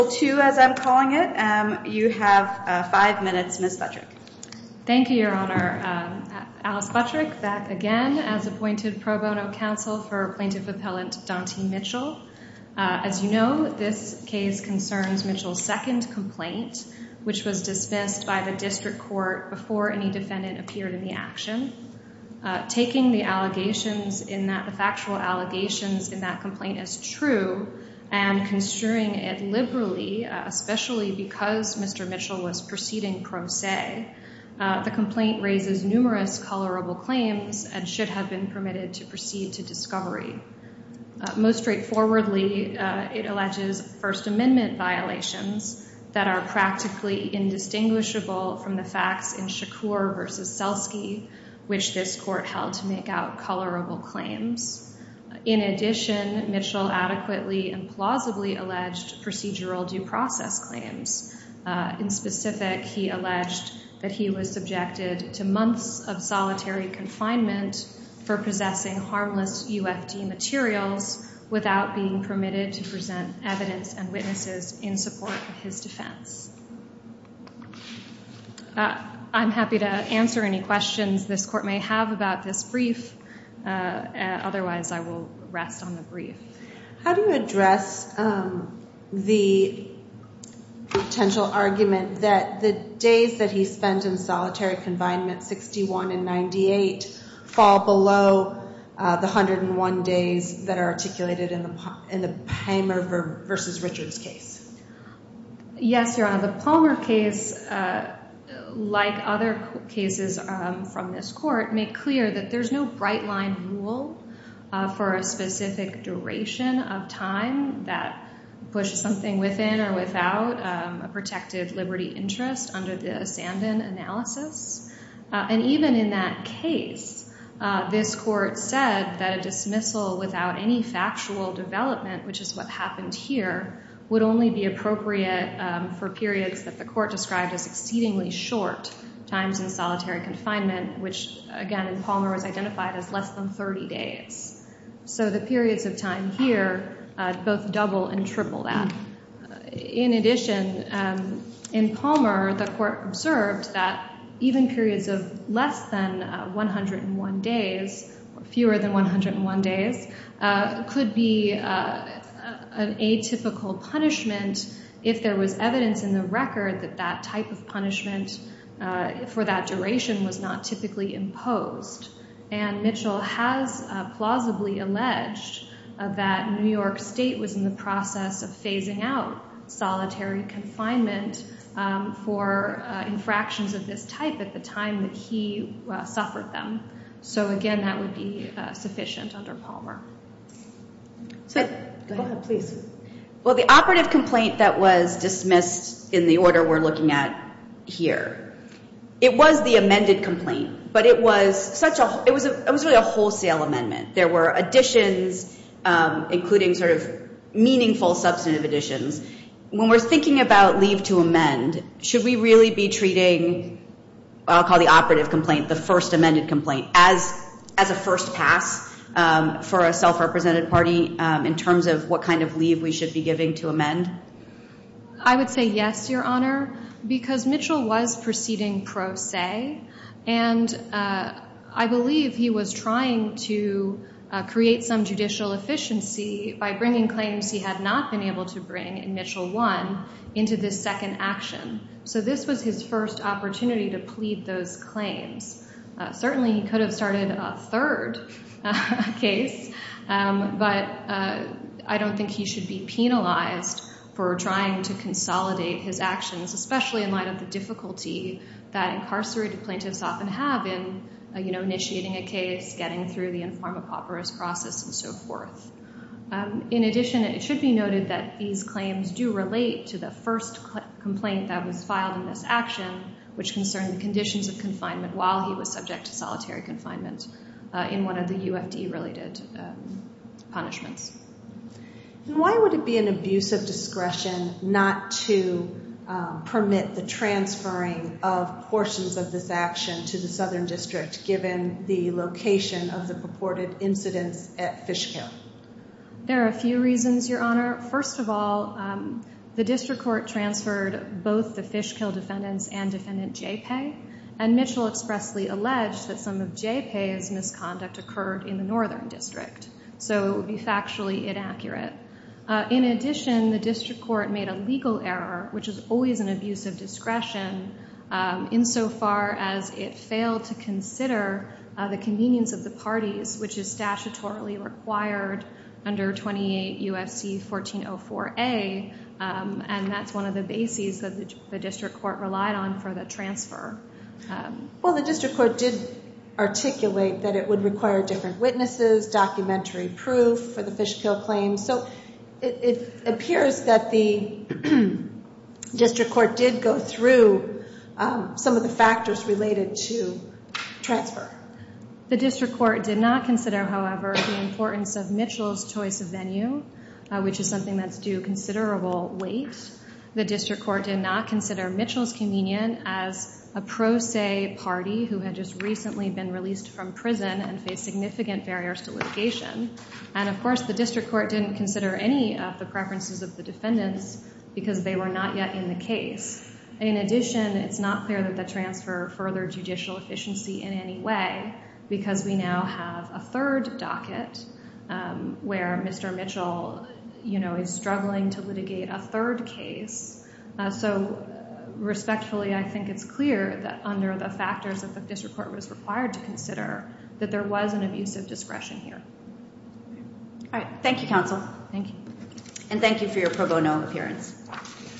two as I'm calling it. Um, you have five minutes, Miss Patrick. Thank you, Your Honor. Alice Patrick back again as appointed pro bono counsel for plaintiff appellant Dante Mitchell. Aziz, you know, this case concerns Mitchell's second complaint, which was dismissed by the district court before any defendant appeared in the action. Taking the allegations in that the especially because Mr Mitchell was proceeding pro se. The complaint raises numerous colorable claims and should have been permitted to proceed to discovery. Most straightforwardly, it alleges First Amendment violations that are practically indistinguishable from the facts in Shakur versus Selsky, which this court held to make out colorable claims. In addition, Mitchell adequately and plausibly alleged procedural due process claims. In specific, he alleged that he was subjected to months of solitary confinement for possessing harmless U. F. D. Materials without being permitted to present evidence and witnesses in support of his defense. I'm happy to answer any questions this court may have about this brief. Otherwise, I will rest on the brief. How do you address the potential argument that the days that he spent in solitary confinement 61 98 fall below the 101 days that are articulated in the in the hammer versus Richard's case? Yes, Your Honor. The Palmer case, like other cases from this court, make clear that there's no bright line rule for a specific duration of time that push something within or without a protective liberty interest under the Sandan analysis. And even in that case, this court said that a dismissal without any factual development, which is what happened here, would only be appropriate for periods that the court described as again in Palmer was identified as less than 30 days. So the periods of time here both double and triple that. In addition, in Palmer, the court observed that even periods of less than 101 days, fewer than 101 days, could be an atypical punishment if there was evidence in the record that that type of punishment for that duration was not typically imposed. And Mitchell has plausibly alleged that New York State was in the process of phasing out solitary confinement for infractions of this type at the time that he suffered them. So again, that would be sufficient under Palmer. So go ahead, please. Well, the operative complaint that was dismissed in the here, it was the amended complaint, but it was such a, it was a, it was really a wholesale amendment. There were additions, including sort of meaningful substantive additions. When we're thinking about leave to amend, should we really be treating, I'll call the operative complaint, the first amended complaint as, as a first pass for a self-represented party in terms of what kind of leave we should be giving to amend? I would say yes, Your Honor, because Mitchell was proceeding pro se, and I believe he was trying to create some judicial efficiency by bringing claims he had not been able to bring in Mitchell 1 into this second action. So this was his first opportunity to plead those claims. Certainly he could have started a third case, but I don't think he should be penalized for trying to consolidate his actions, especially in light of the difficulty that incarcerated plaintiffs often have in, you know, initiating a case, getting through the inform of operas process and so forth. In addition, it should be noted that these claims do relate to the first complaint that was filed in this action, which concerned the conditions of confinement while he was subject to solitary confinement in one of the UFD related punishments. And why would it be an abuse of discretion not to permit the transferring of portions of this action to the Southern District, given the location of the purported incidents at Fishkill? There are a few reasons, Your Honor. First of all, the district court transferred both the Fishkill defendants and defendant Jaypay, and Mitchell expressly alleged that some of Jaypay's misconduct occurred in the Southern District. So it would be factually inaccurate. In addition, the district court made a legal error, which is always an abuse of discretion, insofar as it failed to consider the convenience of the parties, which is statutorily required under 28 UFC 1404A. And that's one of the bases that the district court relied on for the transfer. Well, the district court did articulate that it would require different witnesses, documentary proof for the Fishkill claims. So it appears that the district court did go through some of the factors related to transfer. The district court did not consider, however, the importance of Mitchell's choice of venue, which is something that's due considerable weight. The district court did not consider Mitchell's communion as a pro se party who had just recently been released from prison and faced significant barriers to litigation. And of course, the district court didn't consider any of the preferences of the defendants because they were not yet in the case. In addition, it's not clear that the transfer furthered judicial efficiency in any way because we now have a third docket where Mr. Mitchell, you know, is struggling to litigate a third case. So respectfully, I think it's clear that under the factors of the district court was required to consider that there was an abusive discretion here. All right. Thank you, Counsel. Thank you. And thank you for your pro bono appearance.